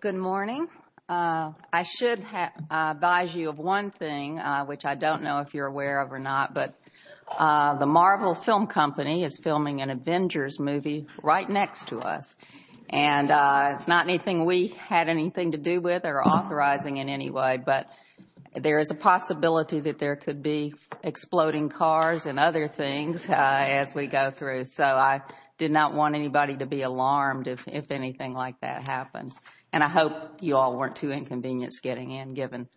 Good morning. I should advise you of one thing, which I don't know if you're aware of or not, but the Marvel Film Company is filming an Avengers movie right next to us, and it's not anything we had anything to do with or authorizing in any way, but there is a possibility that there could be exploding cars and other things as we go through, so I did not want anybody to be alarmed if anything like that happened, and I hope you all weren't too inconvenienced getting in given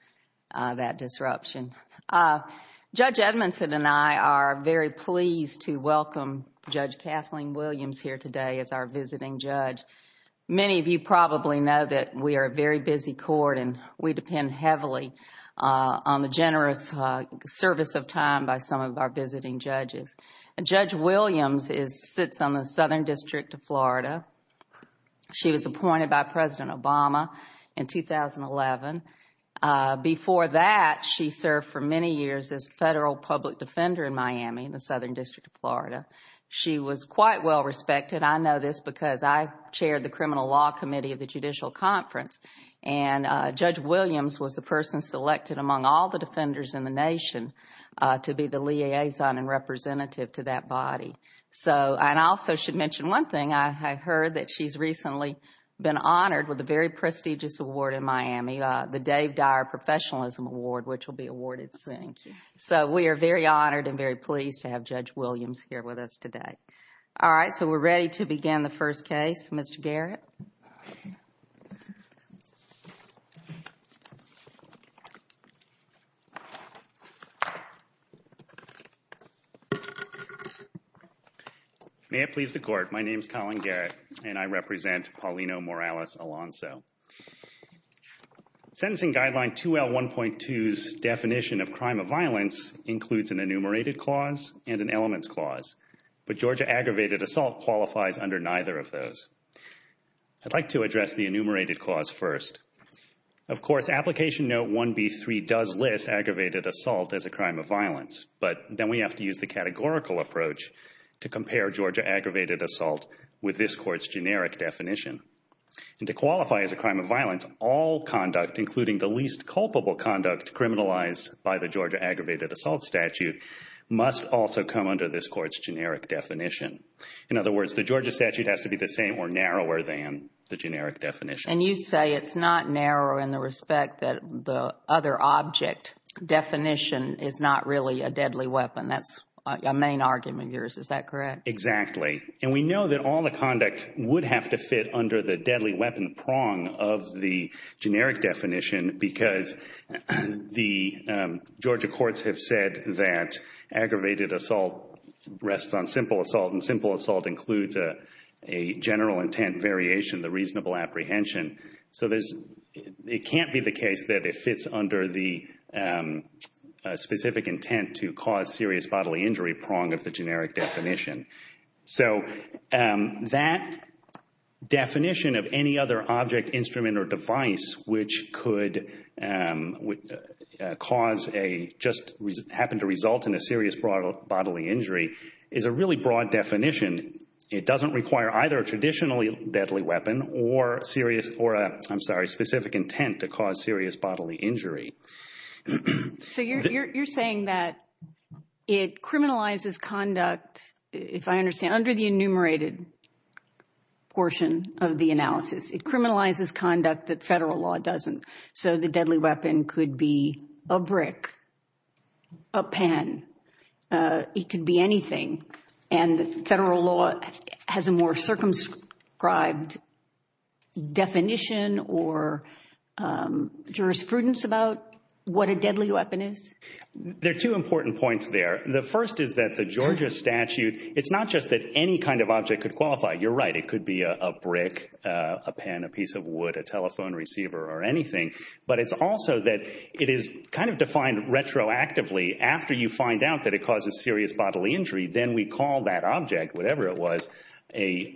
that disruption. Judge Edmondson and I are very pleased to welcome Judge Kathleen Williams here today as our visiting judge. Many of you probably know that we are a very busy court and we depend heavily on the generous service of time by some of our visiting judges. Judge Williams sits on the Southern District of Florida. She was appointed by President Obama in 2011. Before that, she served for many years as a federal public defender in Miami in the Southern District of Florida. She was quite well respected. I know this because I chaired the Criminal Law Committee of the Judicial Conference, and Judge Williams was the person selected among all the I heard that she's recently been honored with a very prestigious award in Miami, the Dave Dyer Professionalism Award, which will be awarded soon, so we are very honored and very pleased to have Judge Williams here with us today. All right, so we're ready to begin the first case, Mr. Garrett. May it please the court, my name is Colin Garrett, and I represent Paulino Morales Alonso. Sentencing Guideline 2L1.2's definition of crime of violence includes an enumerated clause and an elements clause, but Georgia aggravated assault qualifies under neither of those. I'd like to address the enumerated clause first. Of course, Application Note 1B3 does list aggravated assault as a crime of violence, but then we have to use the categorical approach to compare Georgia aggravated assault with this court's generic definition. And to qualify as a crime of violence, all conduct, including the least culpable conduct criminalized by the Georgia aggravated assault statute, must also come under this court's generic definition. In other words, the Georgia statute has to be the same or narrower than the generic definition. And you say it's not narrow in the respect that the other object definition is not really a deadly weapon. That's a main argument of yours, is that correct? Exactly. And we know that all the conduct would have to fit under the deadly weapon prong of the Georgia courts have said that aggravated assault rests on simple assault, and simple assault includes a general intent variation, the reasonable apprehension. So it can't be the case that it fits under the specific intent to cause serious bodily injury prong of the generic definition. So that definition of any other object, instrument, or device which could cause a, just happen to result in a serious bodily injury is a really broad definition. It doesn't require either a traditionally deadly weapon or serious, or I'm sorry, specific intent to cause serious bodily injury. So you're saying that it criminalizes conduct, if I understand, under the enumerated portion of the analysis, it criminalizes conduct that a brick, a pen, it could be anything, and federal law has a more circumscribed definition or jurisprudence about what a deadly weapon is? There are two important points there. The first is that the Georgia statute, it's not just that any kind of object could qualify. You're right, it could be a brick, a pen, a piece of wood, a telephone receiver, or anything, but it's also that it is kind of defined retroactively after you find out that it causes serious bodily injury, then we call that object, whatever it was, a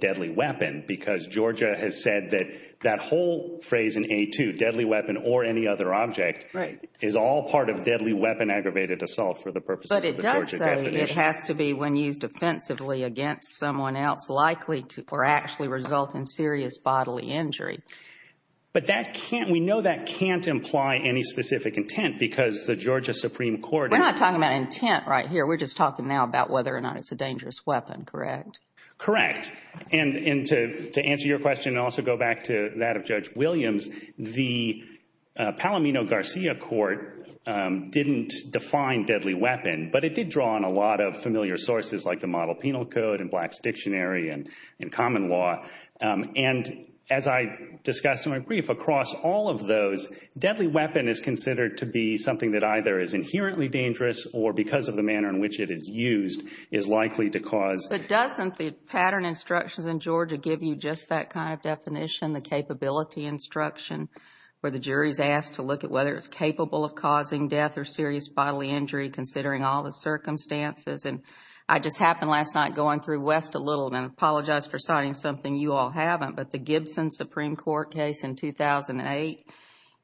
deadly weapon because Georgia has said that that whole phrase in A2, deadly weapon or any other object, is all part of deadly weapon aggravated assault for the purposes of the Georgia definition. But it does say it has to be when used defensively against someone else likely to or actually result in serious bodily injury. But that can't, we know that can't imply any specific intent because the Georgia Supreme Court. We're not talking about intent right here, we're just talking now about whether or not it's a dangerous weapon, correct? Correct. And to answer your question, and also go back to that of Judge Williams, the Palomino-Garcia court didn't define deadly weapon, but it did draw on a lot of familiar sources like the Model Penal Code and Black's Dictionary and common law. And as I discussed in my brief, across all of those, deadly weapon is considered to be something that either is inherently dangerous or because of the manner in which it is used is likely to cause. But doesn't the pattern instructions in Georgia give you just that kind of definition, the capability instruction, where the jury is asked to look at whether it's capable of causing death or serious bodily injury considering all the circumstances? And I just happened last night going through West a little and I apologize for citing something you all haven't, but the Gibson Supreme Court case in 2008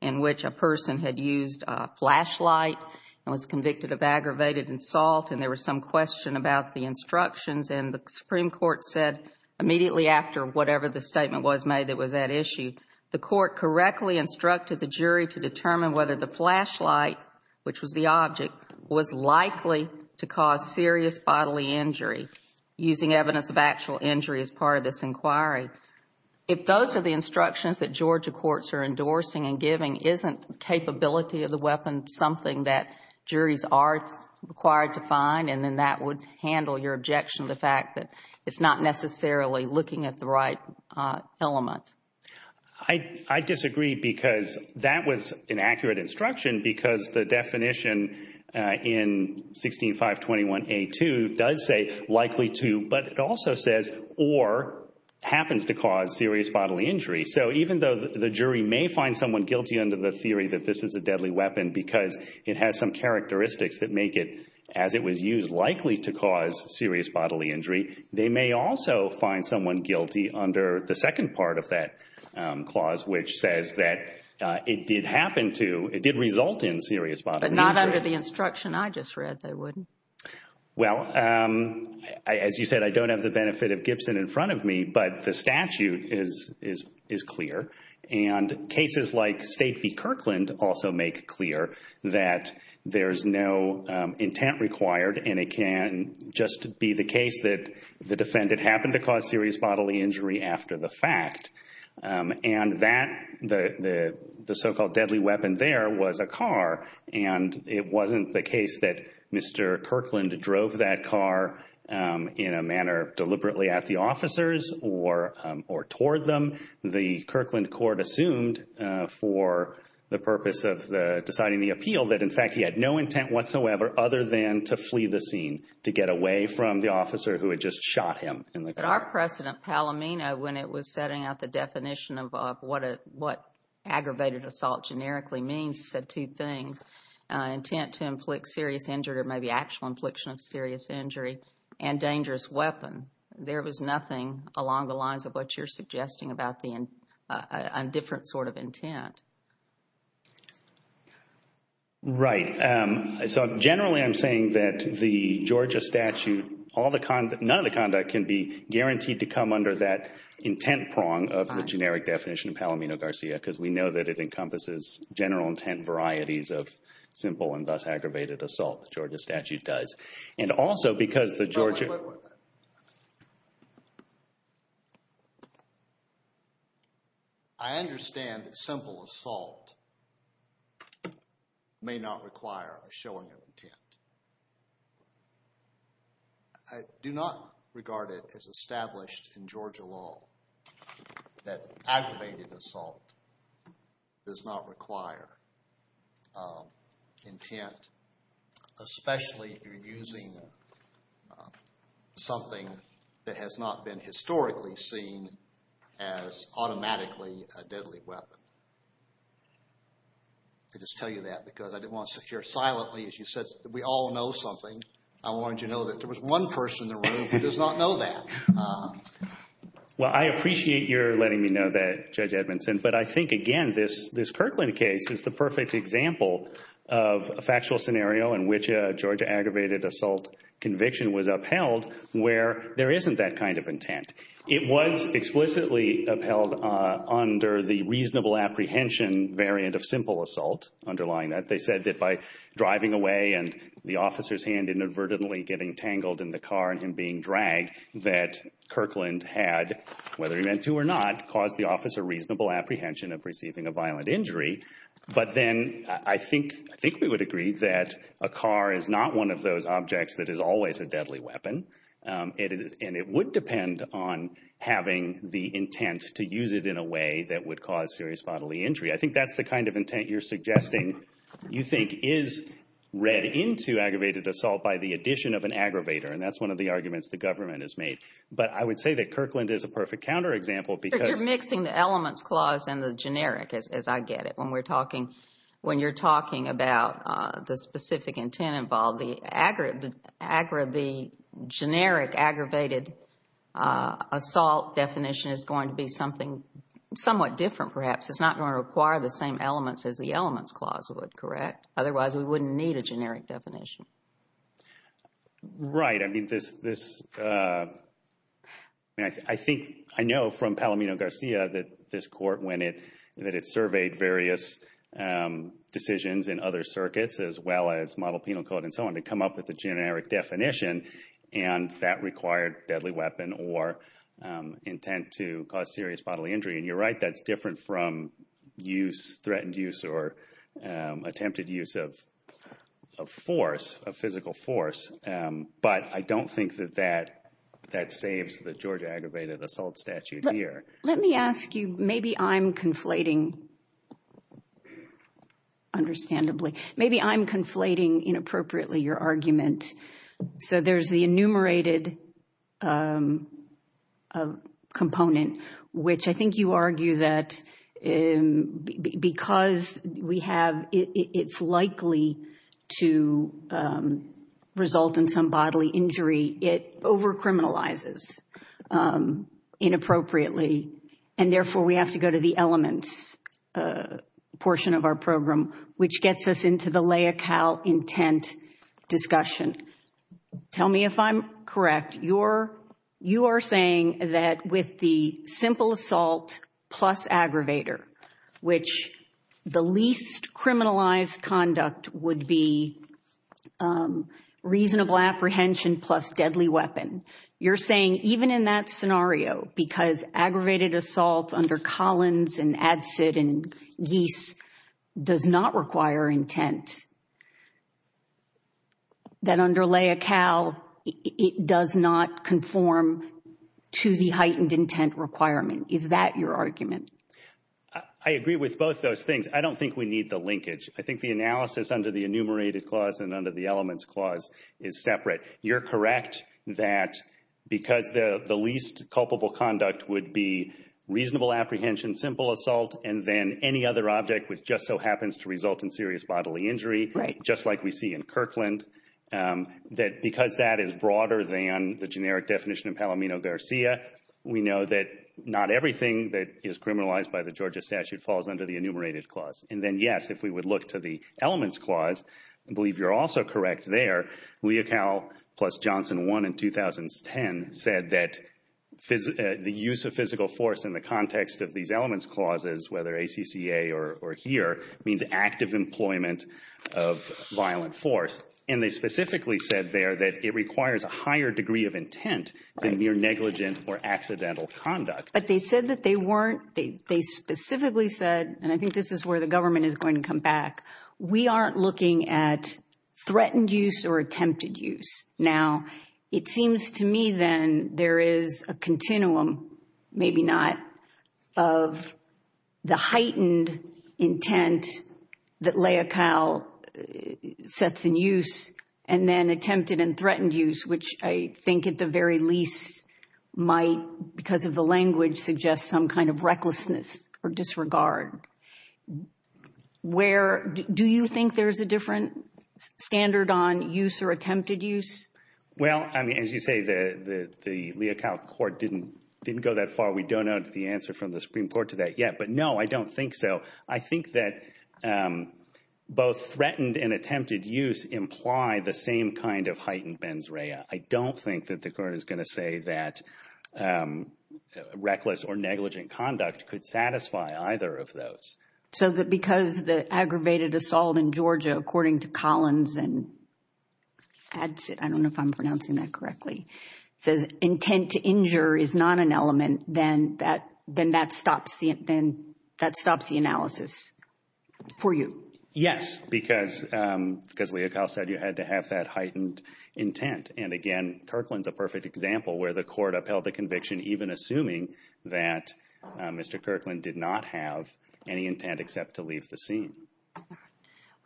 in which a person had used a flashlight and was convicted of aggravated insult and there was some question about the instructions. And the Supreme Court said immediately after whatever the statement was made that was at issue, the court correctly instructed the jury to determine whether the deadly weapon was likely to cause serious bodily injury using evidence of actual injury as part of this inquiry. If those are the instructions that Georgia courts are endorsing and giving, isn't capability of the weapon something that juries are required to find and then that would handle your objection to the fact that it's not necessarily looking at the right element? I disagree because that was an accurate instruction because the definition in 16-521-A-2 does say likely to, but it also says or happens to cause serious bodily injury. So even though the jury may find someone guilty under the theory that this is a deadly weapon because it has some characteristics that make it, as it was used, likely to cause serious bodily injury, they may also find someone guilty under the second part of that clause which says that it did happen to, it did result in serious bodily injury. But not under the instruction I just read, they wouldn't. Well, as you said, I don't have the benefit of Gibson in front of me, but the statute is clear and cases like Stacey Kirkland also make clear that there's no intent required and it can just be the case that the defendant happened to cause serious bodily injury after the fact. And that, the so-called deadly weapon there was a car and it wasn't the case that Mr. Kirkland drove that car in a manner deliberately at the officers or toward them. The Kirkland court assumed for the purpose of deciding the appeal that in fact he had no intent whatsoever other than to the officer who had just shot him in the car. But our precedent, Palomino, when it was setting out the definition of what aggravated assault generically means, said two things. Intent to inflict serious injury or maybe actual infliction of serious injury and dangerous weapon. There was nothing along the lines of what you're suggesting about a different sort of intent. Right. So generally I'm saying that the Georgia statute, none of the conduct can be guaranteed to come under that intent prong of the generic definition of Palomino-Garcia because we know that it encompasses general intent varieties of simple and thus aggravated assault. Georgia statute does. And also because the Georgia... Wait, wait, wait. I understand that simple assault may not require a showing of intent. I do not regard it as established in Georgia law that aggravated assault does not require intent, especially if you're using something that has not been historically seen as automatically a deadly weapon. I just tell you that because I didn't want to sit here silently as you said. We all know something. I wanted you to know that there was one person in the room who does not know that. Well, I appreciate your letting me know that, Judge Edmondson. But I think that's a perfect example of a factual scenario in which a Georgia aggravated assault conviction was upheld where there isn't that kind of intent. It was explicitly upheld under the reasonable apprehension variant of simple assault underlying that. They said that by driving away and the officer's hand inadvertently getting tangled in the car and him being dragged that Kirkland had, whether he meant to or not, caused the officer reasonable apprehension of I think we would agree that a car is not one of those objects that is always a deadly weapon. And it would depend on having the intent to use it in a way that would cause serious bodily injury. I think that's the kind of intent you're suggesting you think is read into aggravated assault by the addition of an aggravator. And that's one of the arguments the government has made. But I would say that Kirkland is a perfect counterexample. But you're mixing the elements clause and the generic as I get it. When we're talking, when you're talking about the specific intent involved, the generic aggravated assault definition is going to be something somewhat different perhaps. It's not going to require the same elements as the elements clause would, correct? Otherwise, we wouldn't need a generic definition. Right. I mean, this, I think, I know from Palomino Garcia that this court when it, that it surveyed various decisions in other circuits as well as model penal code and so on to come up with a generic definition. And that required deadly weapon or intent to cause serious bodily injury. And you're right, that's different from use, threatened use or attempted use of force, of physical force. But I don't think that that, that saves the Georgia aggravated assault statute here. Let me ask you, maybe I'm conflating, understandably, maybe I'm conflating inappropriately your argument. So there's the likely to result in some bodily injury. It over-criminalizes inappropriately. And therefore, we have to go to the elements portion of our program, which gets us into the LAICAL intent discussion. Tell me if I'm correct, you're, you are saying that with the simple assault plus aggravator, which the least criminalized conduct would be reasonable apprehension plus deadly weapon. You're saying even in that scenario, because aggravated assault under Collins and Adsit and Gease does not require intent, that under LAICAL, it does not conform to the heightened intent requirement. Is that your argument? I agree with both those things. I don't think we need the linkage. I think the analysis under the enumerated clause and under the elements clause is separate. You're correct that because the least culpable conduct would be reasonable apprehension, simple assault, and then any other object which just so happens to result in serious bodily injury, just like we see in Kirkland, that because that is broader than the generic definition of Palomino-Garcia, we know that not everything that is criminalized by the Georgia statute falls under the enumerated clause. And then yes, if we would look to the elements clause, I believe you're also correct there, LAICAL plus Johnson 1 in 2010 said that the use of physical force in the context of these or here means active employment of violent force. And they specifically said there that it requires a higher degree of intent than mere negligent or accidental conduct. But they said that they weren't, they specifically said, and I think this is where the government is going to come back, we aren't looking at threatened use or attempted use. Now, it seems to me then there is a continuum, maybe not, of the heightened intent that LAICAL sets in use and then attempted and threatened use, which I think at the very least might, because of the language, suggest some kind of recklessness or disregard. Where, do you think there's a different standard on use or attempted use? Well, I mean, as you say, the LAICAL court didn't go that far. We don't know the answer from the Supreme Court to that yet. But no, I don't think so. I think that both threatened and attempted use imply the same kind of heightened mens rea. I don't think that the court is going to say that reckless or negligent conduct could satisfy either of those. So that because the aggravated assault in Georgia, according to Collins and adds it, I don't know if I'm pronouncing that correctly, says intent to injure is not an element, then that stops the analysis for you? Yes, because LAICAL said you had to have that heightened intent. And again, Kirkland's a perfect example where the court upheld the intent except to leave the scene.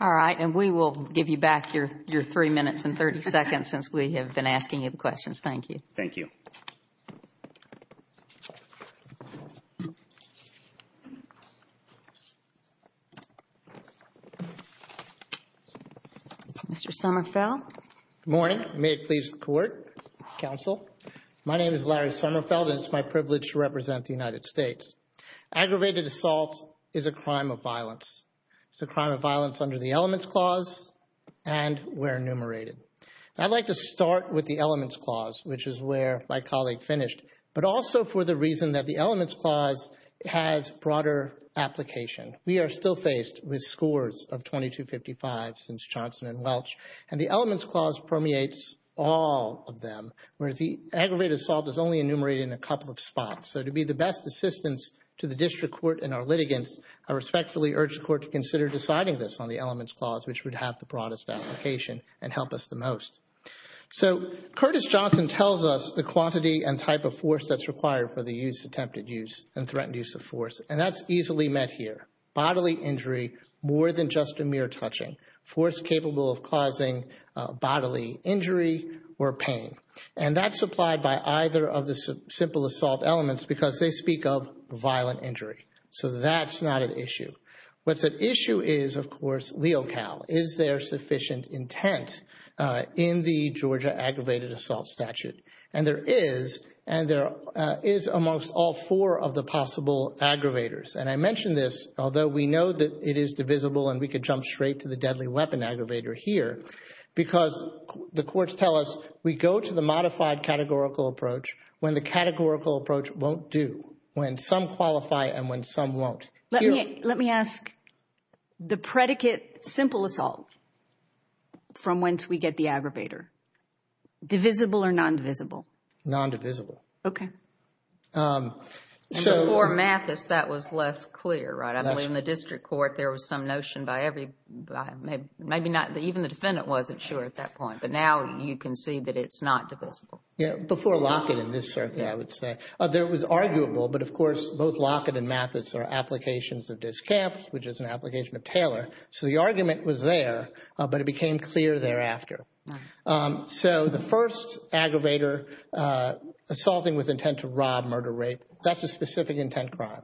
All right. And we will give you back your three minutes and 30 seconds since we have been asking you the questions. Thank you. Thank you. Mr. Summerfeld. Good morning. May it please the court, counsel. My name is Larry Summerfeld and it's my privilege to represent the United States. Aggravated assault is a crime of violence. It's a crime of violence under the ELEMENTS Clause and we're enumerated. I'd like to start with the ELEMENTS Clause, which is where my colleague finished, but also for the reason that the ELEMENTS Clause has broader application. We are still faced with scores of 2255 since Johnson and Welch. And the ELEMENTS Clause permeates all of them, whereas the aggravated assault is only enumerated in a couple of spots. So to be the best assistance to the district court and our litigants, I respectfully urge the court to consider deciding this on the ELEMENTS Clause, which would have the broadest application and help us the most. So Curtis Johnson tells us the quantity and type of force that's required for the use, attempted use, and threatened use of force. And that's easily met here. Bodily injury more than just a mere touching. Force capable of causing bodily injury or pain. And that's supplied by either of the simple assault elements because they speak of violent injury. So that's not an issue. What's at issue is, of course, leocal. Is there sufficient intent in the Georgia aggravated assault statute? And there is. And there is amongst all four of the possible aggravators. And I mention this, although we know that it is divisible and we the courts tell us we go to the modified categorical approach when the categorical approach won't do. When some qualify and when some won't. Let me let me ask the predicate simple assault from whence we get the aggravator. Divisible or non-divisible? Non-divisible. Okay. So for Mathis, that was less clear, right? I believe in the district court there was some you can see that it's not divisible. Yeah. Before Lockett in this circuit, I would say there was arguable. But of course, both Lockett and Mathis are applications of discaps, which is an application of Taylor. So the argument was there, but it became clear thereafter. So the first aggravator assaulting with intent to rob, murder, rape, that's a specific intent crime.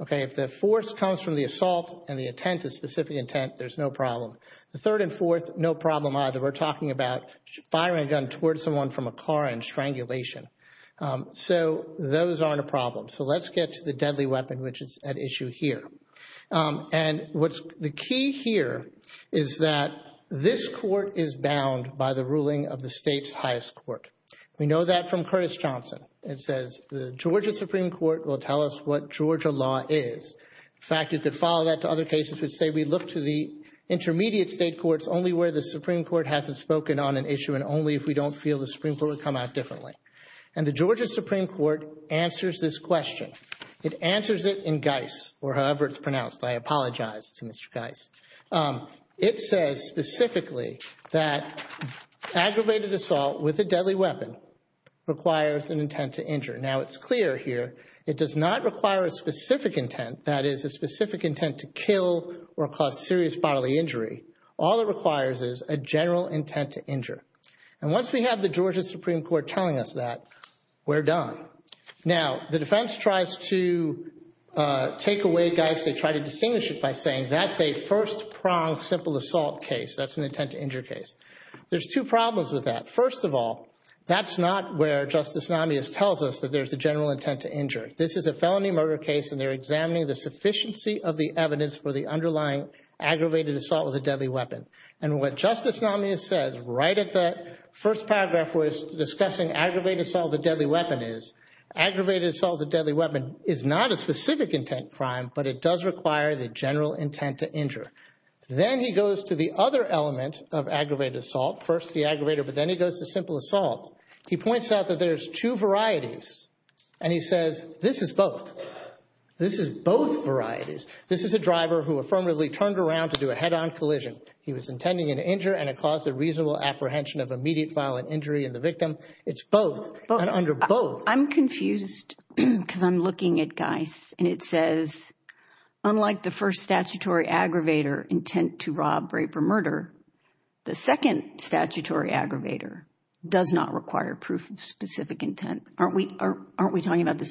Okay. If the force comes from the assault and the intent is specific intent, there's no problem. The third and fourth, no problem either. We're talking about firing a gun towards someone from a car and strangulation. So those aren't a problem. So let's get to the deadly weapon, which is at issue here. And what's the key here is that this court is bound by the ruling of the state's highest court. We know that from Curtis Johnson. It says the Georgia Supreme Court will tell us what Georgia law is. In fact, you could follow that to other cases which say we look to the intermediate state courts only where the Supreme Court hasn't spoken on an issue and only if we don't feel the Supreme Court would come out differently. And the Georgia Supreme Court answers this question. It answers it in Geis or however it's pronounced. I apologize to Mr. Geis. It says specifically that aggravated assault with a deadly weapon requires an intent to injure. Now it's clear here. It does not require a specific intent. That is a specific intent to kill or cause serious bodily injury. All it requires is a general intent to injure. And once we have the Georgia Supreme Court telling us that, we're done. Now the defense tries to take away Geis. They try to distinguish it by saying that's a first prong simple assault case. That's an intent to injure case. There's two problems with that. First of all, that's not where Justice Namius tells us that there's a general intent to injure. This is a felony murder case and they're examining the aggravated assault with a deadly weapon. And what Justice Namius says right at that first paragraph was discussing aggravated assault with a deadly weapon is aggravated assault with a deadly weapon is not a specific intent crime but it does require the general intent to injure. Then he goes to the other element of aggravated assault. First the aggravator but then he goes to simple assault. He points out that there's two varieties and he says this is both. This is both varieties. This is a driver who affirmatively turned around to do a head-on collision. He was intending an injury and it caused a reasonable apprehension of immediate violent injury in the victim. It's both and under both. I'm confused because I'm looking at Geis and it says unlike the first statutory aggravator intent to rob, rape, or murder, the second statutory aggravator does not require proof of specific intent. Aren't we aren't we talking about the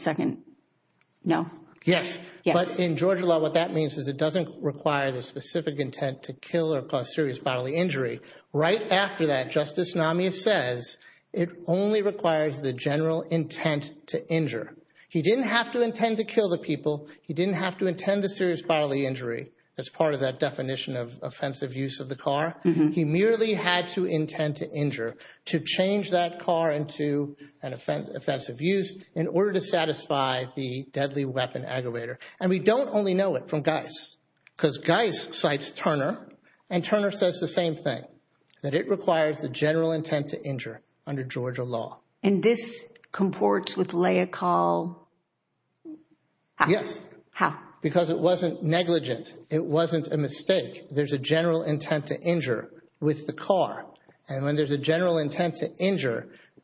that means is it doesn't require the specific intent to kill or cause serious bodily injury. Right after that Justice Namius says it only requires the general intent to injure. He didn't have to intend to kill the people. He didn't have to intend a serious bodily injury. That's part of that definition of offensive use of the car. He merely had to intend to injure to change that car into an offensive use in order to satisfy the deadly weapon aggravator. And we don't only know it from Geis because Geis cites Turner and Turner says the same thing that it requires the general intent to injure under Georgia law. And this comports with lay a call? Yes. How? Because it wasn't negligent. It wasn't a mistake. There's a general intent to injure with the car and when there's a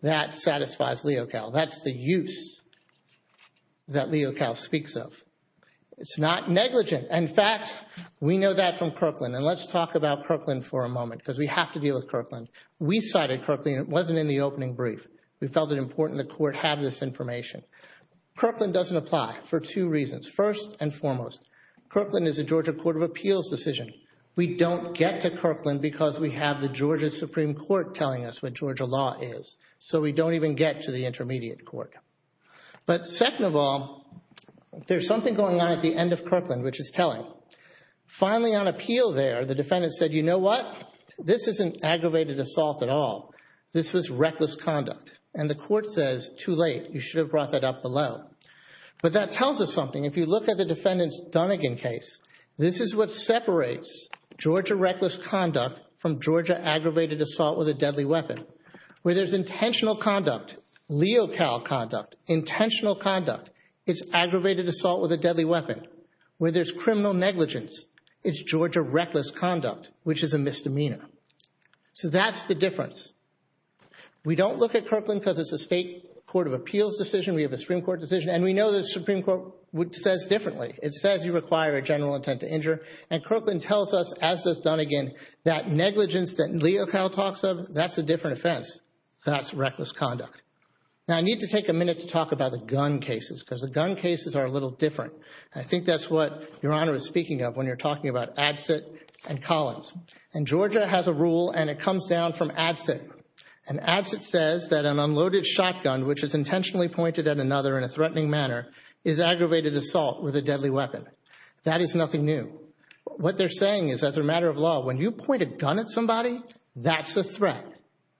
that satisfies Leo Cal. That's the use that Leo Cal speaks of. It's not negligent. In fact, we know that from Kirkland and let's talk about Kirkland for a moment because we have to deal with Kirkland. We cited Kirkland. It wasn't in the opening brief. We felt it important the court have this information. Kirkland doesn't apply for two reasons. First and foremost, Kirkland is a Georgia Court of Appeals decision. We don't get to Kirkland because we have the Georgia Supreme Court telling us what Georgia law is. So we don't even get to the intermediate court. But second of all, there's something going on at the end of Kirkland, which is telling. Finally on appeal there, the defendant said, you know what? This isn't aggravated assault at all. This was reckless conduct. And the court says too late. You should have brought that up below. But that tells us something. If you look at the defendant's Dunnegan case, this is what separates Georgia reckless conduct from Georgia aggravated assault with a deadly weapon. Where there's intentional conduct, Leo Cal conduct, intentional conduct, it's aggravated assault with a deadly weapon. Where there's criminal negligence, it's Georgia reckless conduct, which is a misdemeanor. So that's the difference. We don't look at Kirkland because it's a state Court of Appeals decision. We have a Supreme Court decision. And we know the Supreme Court says differently. It says you require a general intent to injure. And Kirkland tells us, as does Dunnegan, that negligence that Leo Cal talks of, that's a different offense. That's reckless conduct. Now I need to take a minute to talk about the gun cases because the gun cases are a little different. I think that's what Your Honor is speaking of when you're talking about Adsit and Collins. And Georgia has a rule and it comes down from Adsit. And Adsit says that an unloaded shotgun, which is intentionally pointed at another in a threatening manner, is aggravated assault with a deadly weapon. That is nothing new. What they're saying is, as a matter of law, when you point a gun at somebody, that's a threat.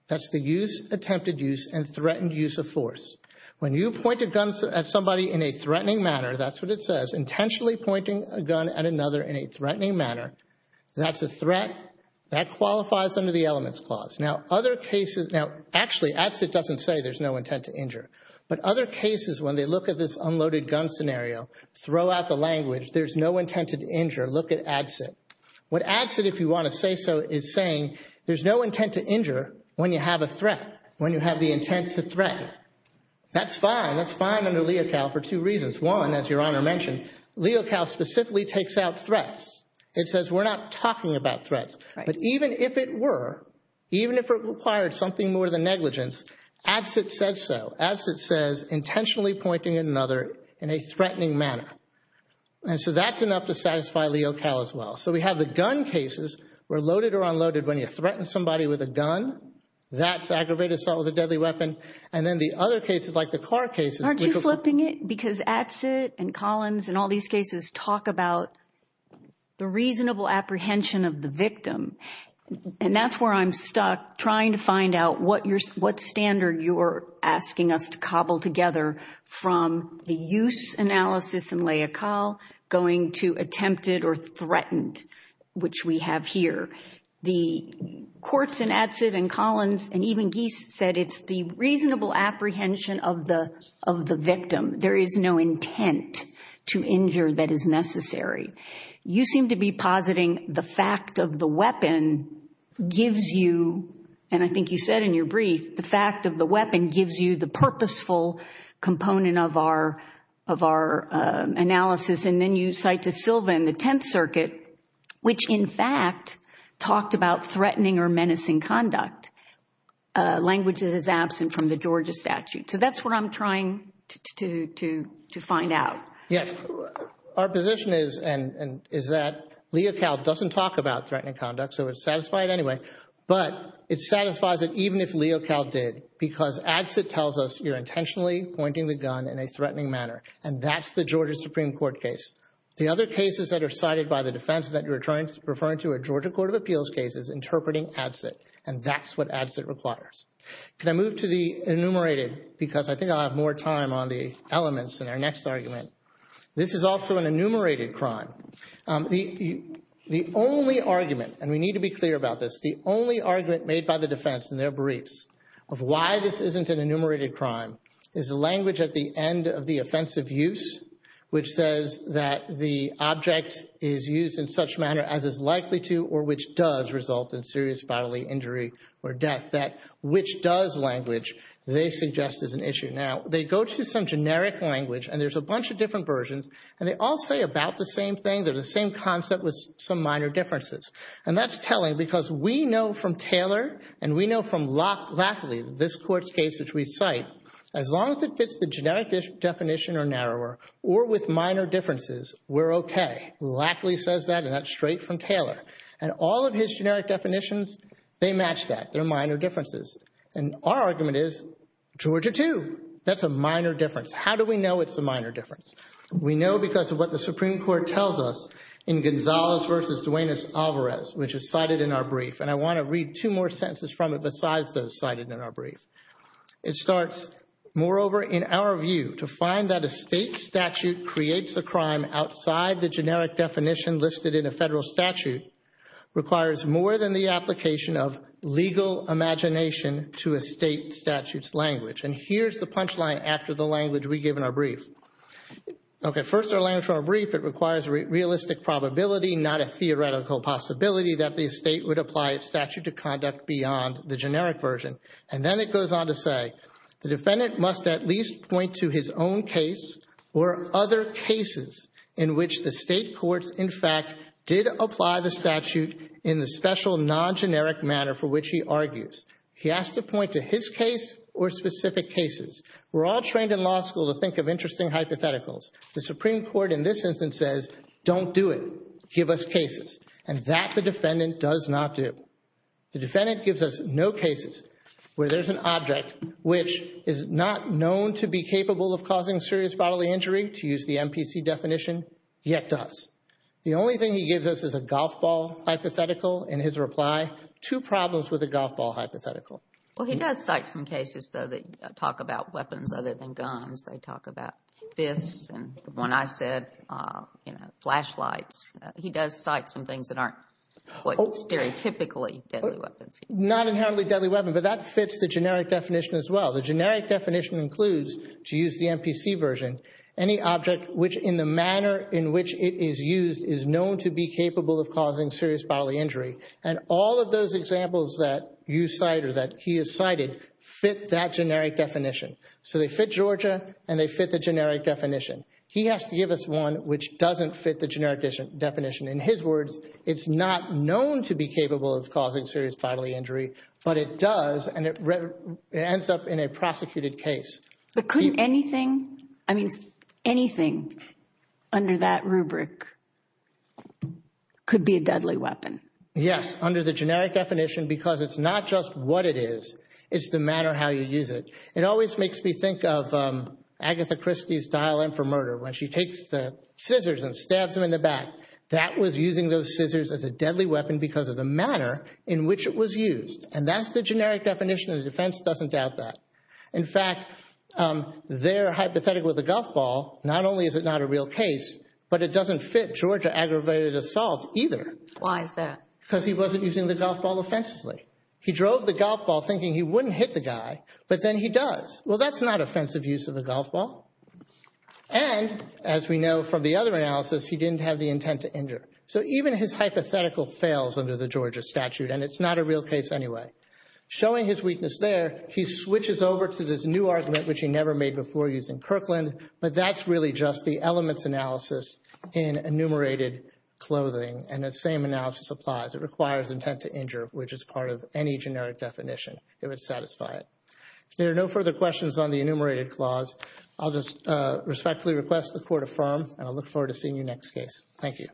That's the use, attempted use, and threatened use of force. When you point a gun at somebody in a threatening manner, that's what it says, intentionally pointing a gun at another in a threatening manner, that's a threat. That qualifies under the elements clause. Now other cases, now actually, Adsit doesn't say there's no intent to injure. But other cases, when they look at this unloaded gun scenario, throw out the language, there's no intent to injure, look at Adsit. What Adsit, if you want to say so, is saying there's no intent to injure when you have a threat, when you have the intent to threaten. That's fine. That's fine under Leo Cal for two reasons. One, as Your Honor mentioned, Leo Cal specifically takes out threats. It says we're not talking about Adsit said so. Adsit says intentionally pointing at another in a threatening manner. And so that's enough to satisfy Leo Cal as well. So we have the gun cases, where loaded or unloaded, when you threaten somebody with a gun, that's aggravated assault with a deadly weapon. And then the other cases, like the car cases... Aren't you flipping it? Because Adsit and Collins and all these cases talk about the reasonable apprehension of the victim. And that's where I'm stuck trying to find out what standard you're asking us to cobble together from the use analysis in Leo Cal, going to attempted or threatened, which we have here. The courts in Adsit and Collins and even Geist said it's the reasonable apprehension of the victim. There is no intent to injure that is necessary. You seem to be positing the fact of the weapon gives you, and I think you agree, the fact of the weapon gives you the purposeful component of our analysis. And then you cite to Silva in the Tenth Circuit, which in fact talked about threatening or menacing conduct, language that is absent from the Georgia statute. So that's what I'm trying to find out. Yes. Our position is that Leo Cal doesn't talk about threatening conduct. So it's satisfied anyway. But it satisfies it even if Leo Cal did, because Adsit tells us you're intentionally pointing the gun in a threatening manner. And that's the Georgia Supreme Court case. The other cases that are cited by the defense that you're referring to a Georgia Court of Appeals case is interpreting Adsit. And that's what Adsit requires. Can I move to the enumerated? Because I think I'll have more time on the elements in our next argument. This is also an enumerated crime. The only argument, and we need to be clear about this, the only argument made by the defense in their briefs of why this isn't an enumerated crime is the language at the end of the offensive use, which says that the object is used in such manner as is likely to or which does result in serious bodily injury or death. That which does language they suggest is an issue. Now, they go to some generic language, and there's a bunch of different versions, and they all say about the same thing. They're the same concept with some minor differences. And that's telling because we know from Taylor, and we know from Lackley, this court's case which we cite, as long as it fits the generic definition or narrower or with minor differences, we're okay. Lackley says that, and that's straight from Taylor. And all of his generic definitions, they match that. They're minor differences. And our argument is Georgia too. That's a minor difference. We know because of what the Supreme Court tells us in Gonzalez versus Duanez-Alvarez, which is cited in our brief. And I want to read two more sentences from it besides those cited in our brief. It starts, moreover, in our view to find that a state statute creates a crime outside the generic definition listed in a federal statute requires more than the application of legal imagination to a state statute's language. And here's the punchline after the language we give in our brief. Okay, first our language from our brief, it requires realistic probability, not a theoretical possibility, that the state would apply a statute to conduct beyond the generic version. And then it goes on to say, the defendant must at least point to his own case or other cases in which the state courts, in fact, did apply the statute in the special non-generic manner for which he argues. He has to point to his case or specific cases. We're all trained in law school to think of interesting hypotheticals. The Supreme Court in this instance says, don't do it, give us cases. And that the defendant does not do. The defendant gives us no cases where there's an object which is not known to be capable of causing serious bodily injury, to use the MPC definition, yet does. The only thing he gives us is a golf ball hypothetical. In his reply, two problems with a golf ball hypothetical. Well, he does cite some cases, though, that talk about weapons other than guns. They talk about fists, and the one I said, you know, flashlights. He does cite some things that aren't quite stereotypically deadly weapons. Not inherently deadly weapons, but that fits the generic definition as well. The generic definition includes, to use the MPC version, any object which in the manner in which it is used is known to be capable of causing serious bodily injury. And all of those examples that you cite or that he has cited fit that generic definition. So they fit Georgia, and they fit the generic definition. He has to give us one which doesn't fit the generic definition. In his words, it's not known to be capable of causing serious bodily injury, but it does, and it ends up in a prosecuted case. But couldn't anything, I mean, anything under that rubric could be a deadly weapon? Yes, under the generic definition, because it's not just what it is, it's the manner how you use it. It always makes me think of Agatha Christie's Dial M for Murder, when she takes the scissors and stabs them in the back. That was using those scissors as a deadly weapon because of the manner in which it was used. And that's the generic definition, and the defense doesn't doubt that. In fact, their hypothetical with the golf ball, not only is it not a real case, but it doesn't fit Georgia aggravated assault either. Why is that? Because he wasn't using the golf ball offensively. He drove the golf ball thinking he wouldn't hit the guy, but then he does. Well, that's not offensive use of a golf ball. And as we know from the other analysis, he didn't have the intent to injure. So even his hypothetical fails under the Georgia statute, and it's not a real case anyway. Showing his weakness there, he switches over to this new argument which he never made before using Kirkland, but that's really just the elements analysis in enumerated clothing, and that same analysis applies. It requires intent to injure, which is part of any generic definition. It would satisfy it. If there are no further questions on the enumerated clause, I'll just respectfully request the court affirm, and I look forward to seeing you next case. Thank you.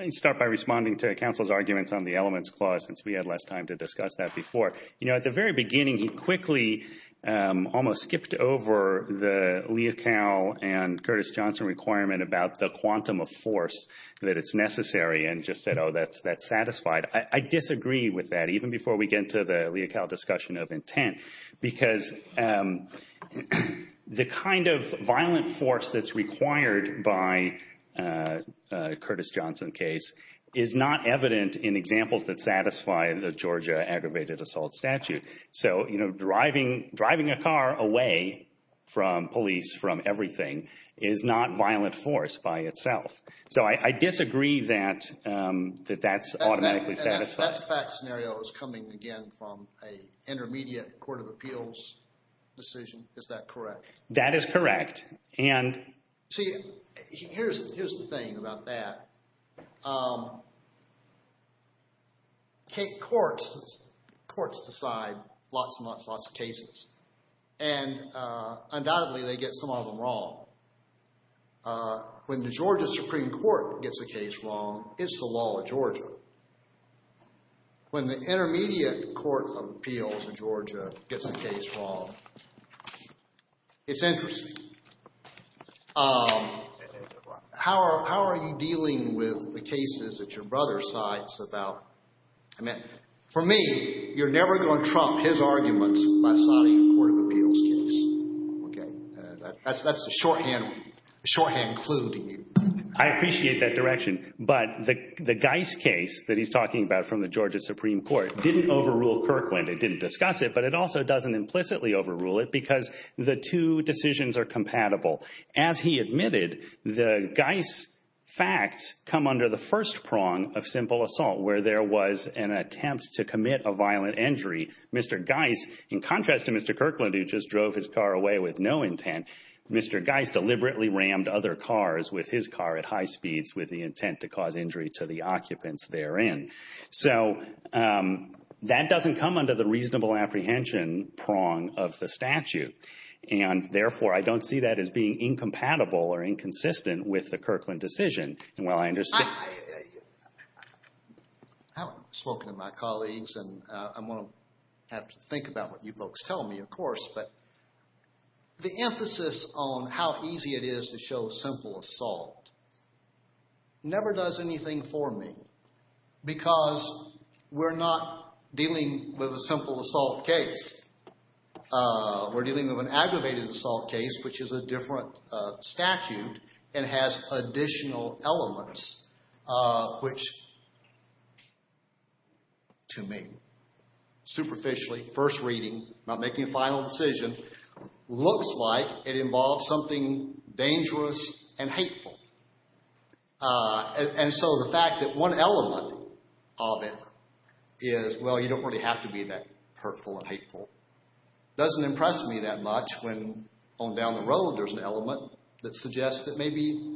I'll start by responding to counsel's arguments on the elements clause since we had less time to discuss that before. You know, at the very beginning, he quickly almost skipped over the Leocal and Curtis Johnson requirement about the quantum of force that it's necessary, and just said, oh, that's satisfied. I disagree with that, even before we get into the Leocal discussion of intent, because the kind of violent force that's required by a Curtis Johnson case is not evident in examples that satisfy the Georgia aggravated assault statute. So, you know, driving a car away from police, from everything, is not violent force by itself. So I disagree that that's automatically satisfied. That fact scenario is coming again from an intermediate court of appeals decision. Is that correct? That is correct, and... See, here's the thing about that. Courts decide lots and lots and lots of cases, and undoubtedly, they get some of them wrong. When the Georgia Supreme Court gets a case wrong, it's the law of Georgia. When the intermediate court of appeals in Georgia gets a case wrong, it's interesting. How are you dealing with the cases that your brother cites about, I mean, for me, you're never going to trump his arguments by citing a court of appeals case, okay? That's the shorthand clue to you. I appreciate that direction, but the Geis case that he's talking about from the Georgia Supreme Court didn't overrule Kirkland. It didn't discuss it, but it also doesn't implicitly overrule it, because the two decisions are compatible. As he admitted, the Geis facts come under the first prong of simple assault, where there was an attempt to commit a violent injury. Mr. Geis, in contrast to Mr. Kirkland, who just drove his car away with no intent, Mr. Geis deliberately rammed other cars with his car at high speeds with the intent to cause injury to the occupants therein. That doesn't come under the reasonable apprehension prong of the statute, and therefore, I don't see that as being incompatible or inconsistent with the Kirkland decision. I haven't spoken to my colleagues, and I'm going to have to think about what you folks tell me, but the emphasis on how easy it is to show simple assault never does anything for me, because we're not dealing with a simple assault case. We're dealing with an aggravated assault case, which is a different statute and has additional elements, which, to me, superficially, first reading, not making a final decision, looks like it involves something dangerous and hateful, and so the fact that one element of it is, well, you don't really have to be that hurtful and hateful, doesn't impress me that much when on down the road, there's an element that suggests that maybe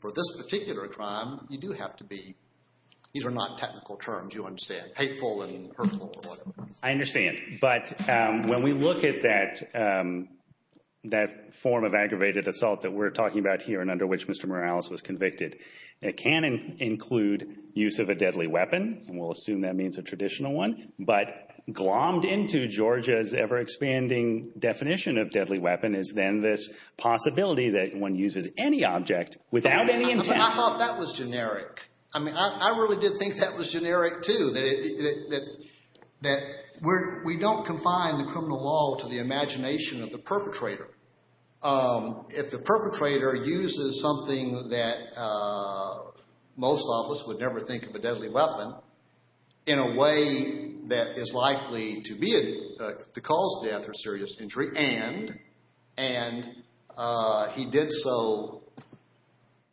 for this particular crime, you do have to be, these are not technical terms, you understand, hateful and hurtful. I understand, but when we look at that form of aggravated assault that we're talking about here and under which Mr. Morales was convicted, it can include use of a deadly weapon, and we'll assume that means a traditional one, but glommed into Georgia's ever-expanding definition of deadly weapon is then this possibility that one uses any object without any intention. I thought that was generic. I mean, I really did think that was generic, too, that we don't confine the criminal law to the imagination of the perpetrator. If the perpetrator uses something that most of us would never think of a deadly weapon in a way that is likely to cause death or serious injury, and he did so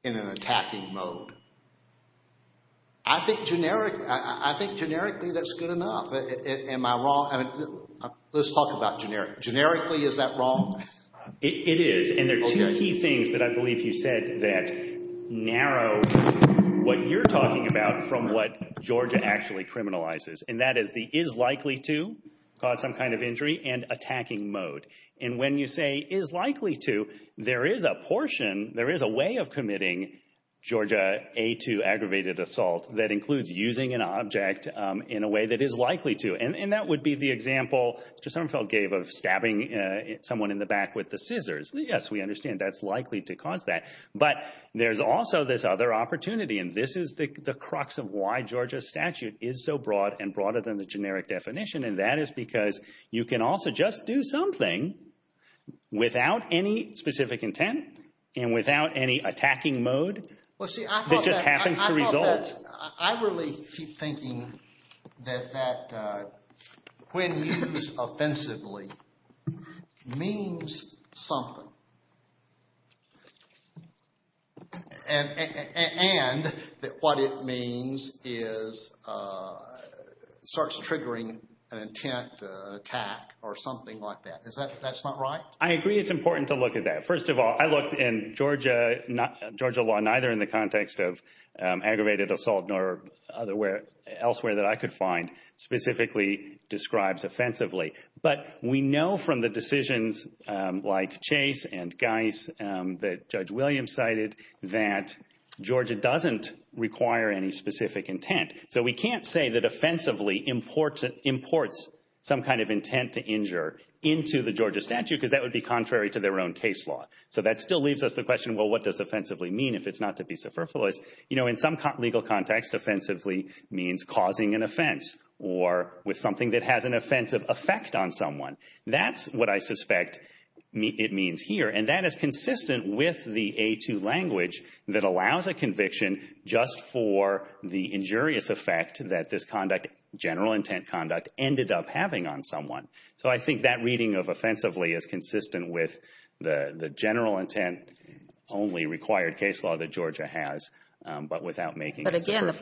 in an attacking mode, I think generically that's good enough. Am I wrong? Let's talk about generic. Generically, is that wrong? It is, and there are two key things that I believe you said that narrow what you're talking about from what Georgia actually criminalizes, and that is the is likely to cause some kind of injury and attacking mode, and when you say is likely to, there is a portion, there is a way of committing Georgia A2 aggravated assault that includes using an object in a way that is likely to, and that would be the example Mr. Summerfeld gave of stabbing someone in the back with the scissors. Yes, we understand that's likely to cause that, but there's also this other opportunity, and this is the crux of why Georgia's statute is so broad and broader than the generic definition, and that is because you can also just do something without any specific intent and without any attacking mode that just happens to result. I really keep thinking that that, when used offensively, means something, and that what it means is starts triggering an intent attack or something like that. Is that, that's not right? I agree it's important to look at that. First of all, I looked in Georgia law, neither in the context of aggravated assault nor elsewhere that I could find specifically describes offensively, but we know from the decisions like Chase and Geis that Judge Williams cited that Georgia doesn't require any specific intent, so we can't say that offensively imports some kind of intent to injure into the Georgia statute because that would be if it's not to be superfluous. In some legal context, offensively means causing an offense or with something that has an offensive effect on someone. That's what I suspect it means here, and that is consistent with the A2 language that allows a conviction just for the injurious effect that this conduct, general intent conduct, ended up having on someone. So I think that reading of case law that Georgia has, but without making it superfluous. But again, the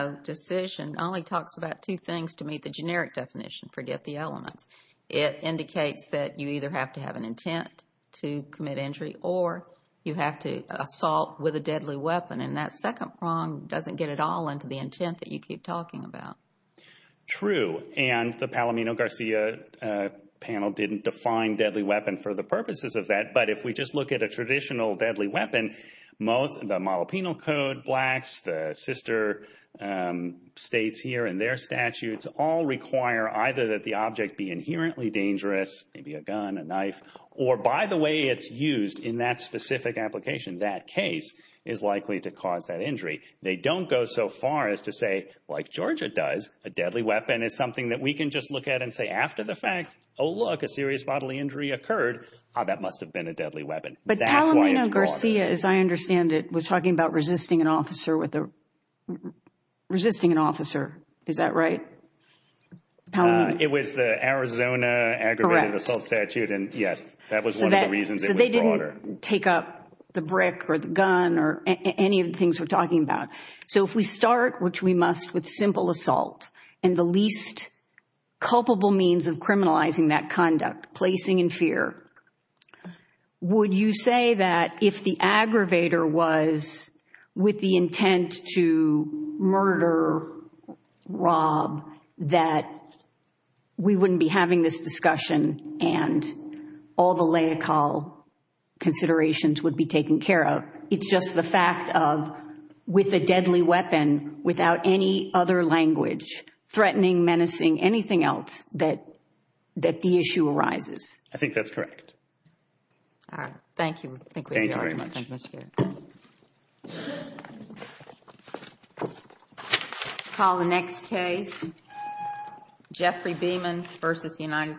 Palomino decision only talks about two things to meet the generic definition, forget the elements. It indicates that you either have to have an intent to commit injury or you have to assault with a deadly weapon, and that second prong doesn't get it all into the intent that you keep talking about. True, and the Palomino-Garcia panel didn't define deadly weapon for the purposes of that, but if we just look at a traditional deadly weapon, the model penal code, blacks, the sister states here and their statutes all require either that the object be inherently dangerous, maybe a gun, a knife, or by the way it's used in that specific application, that case is likely to cause that injury. They don't go so far as to say, like Georgia does, a deadly weapon is something that we can just look at and say after the fact, oh look, a serious bodily injury occurred, that must have been a deadly weapon. But Palomino-Garcia, as I understand it, was talking about resisting an officer, is that right? It was the Arizona aggravated assault statute, and yes, that was one of the reasons it was broader. So they didn't take up the brick or the gun or any of the things we're talking about. So if we start, which we must, with simple assault and the least culpable means of criminalizing that conduct, placing in fear, would you say that if the aggravator was with the intent to murder Rob that we wouldn't be having this discussion and all the lay call considerations would be taken care of? It's just the fact of with a deadly weapon without any other language, threatening, menacing, anything else, that the issue arises. I think that's correct. All right. Thank you. Thank you very much. Call the next case. Jeffrey Beamon versus United States.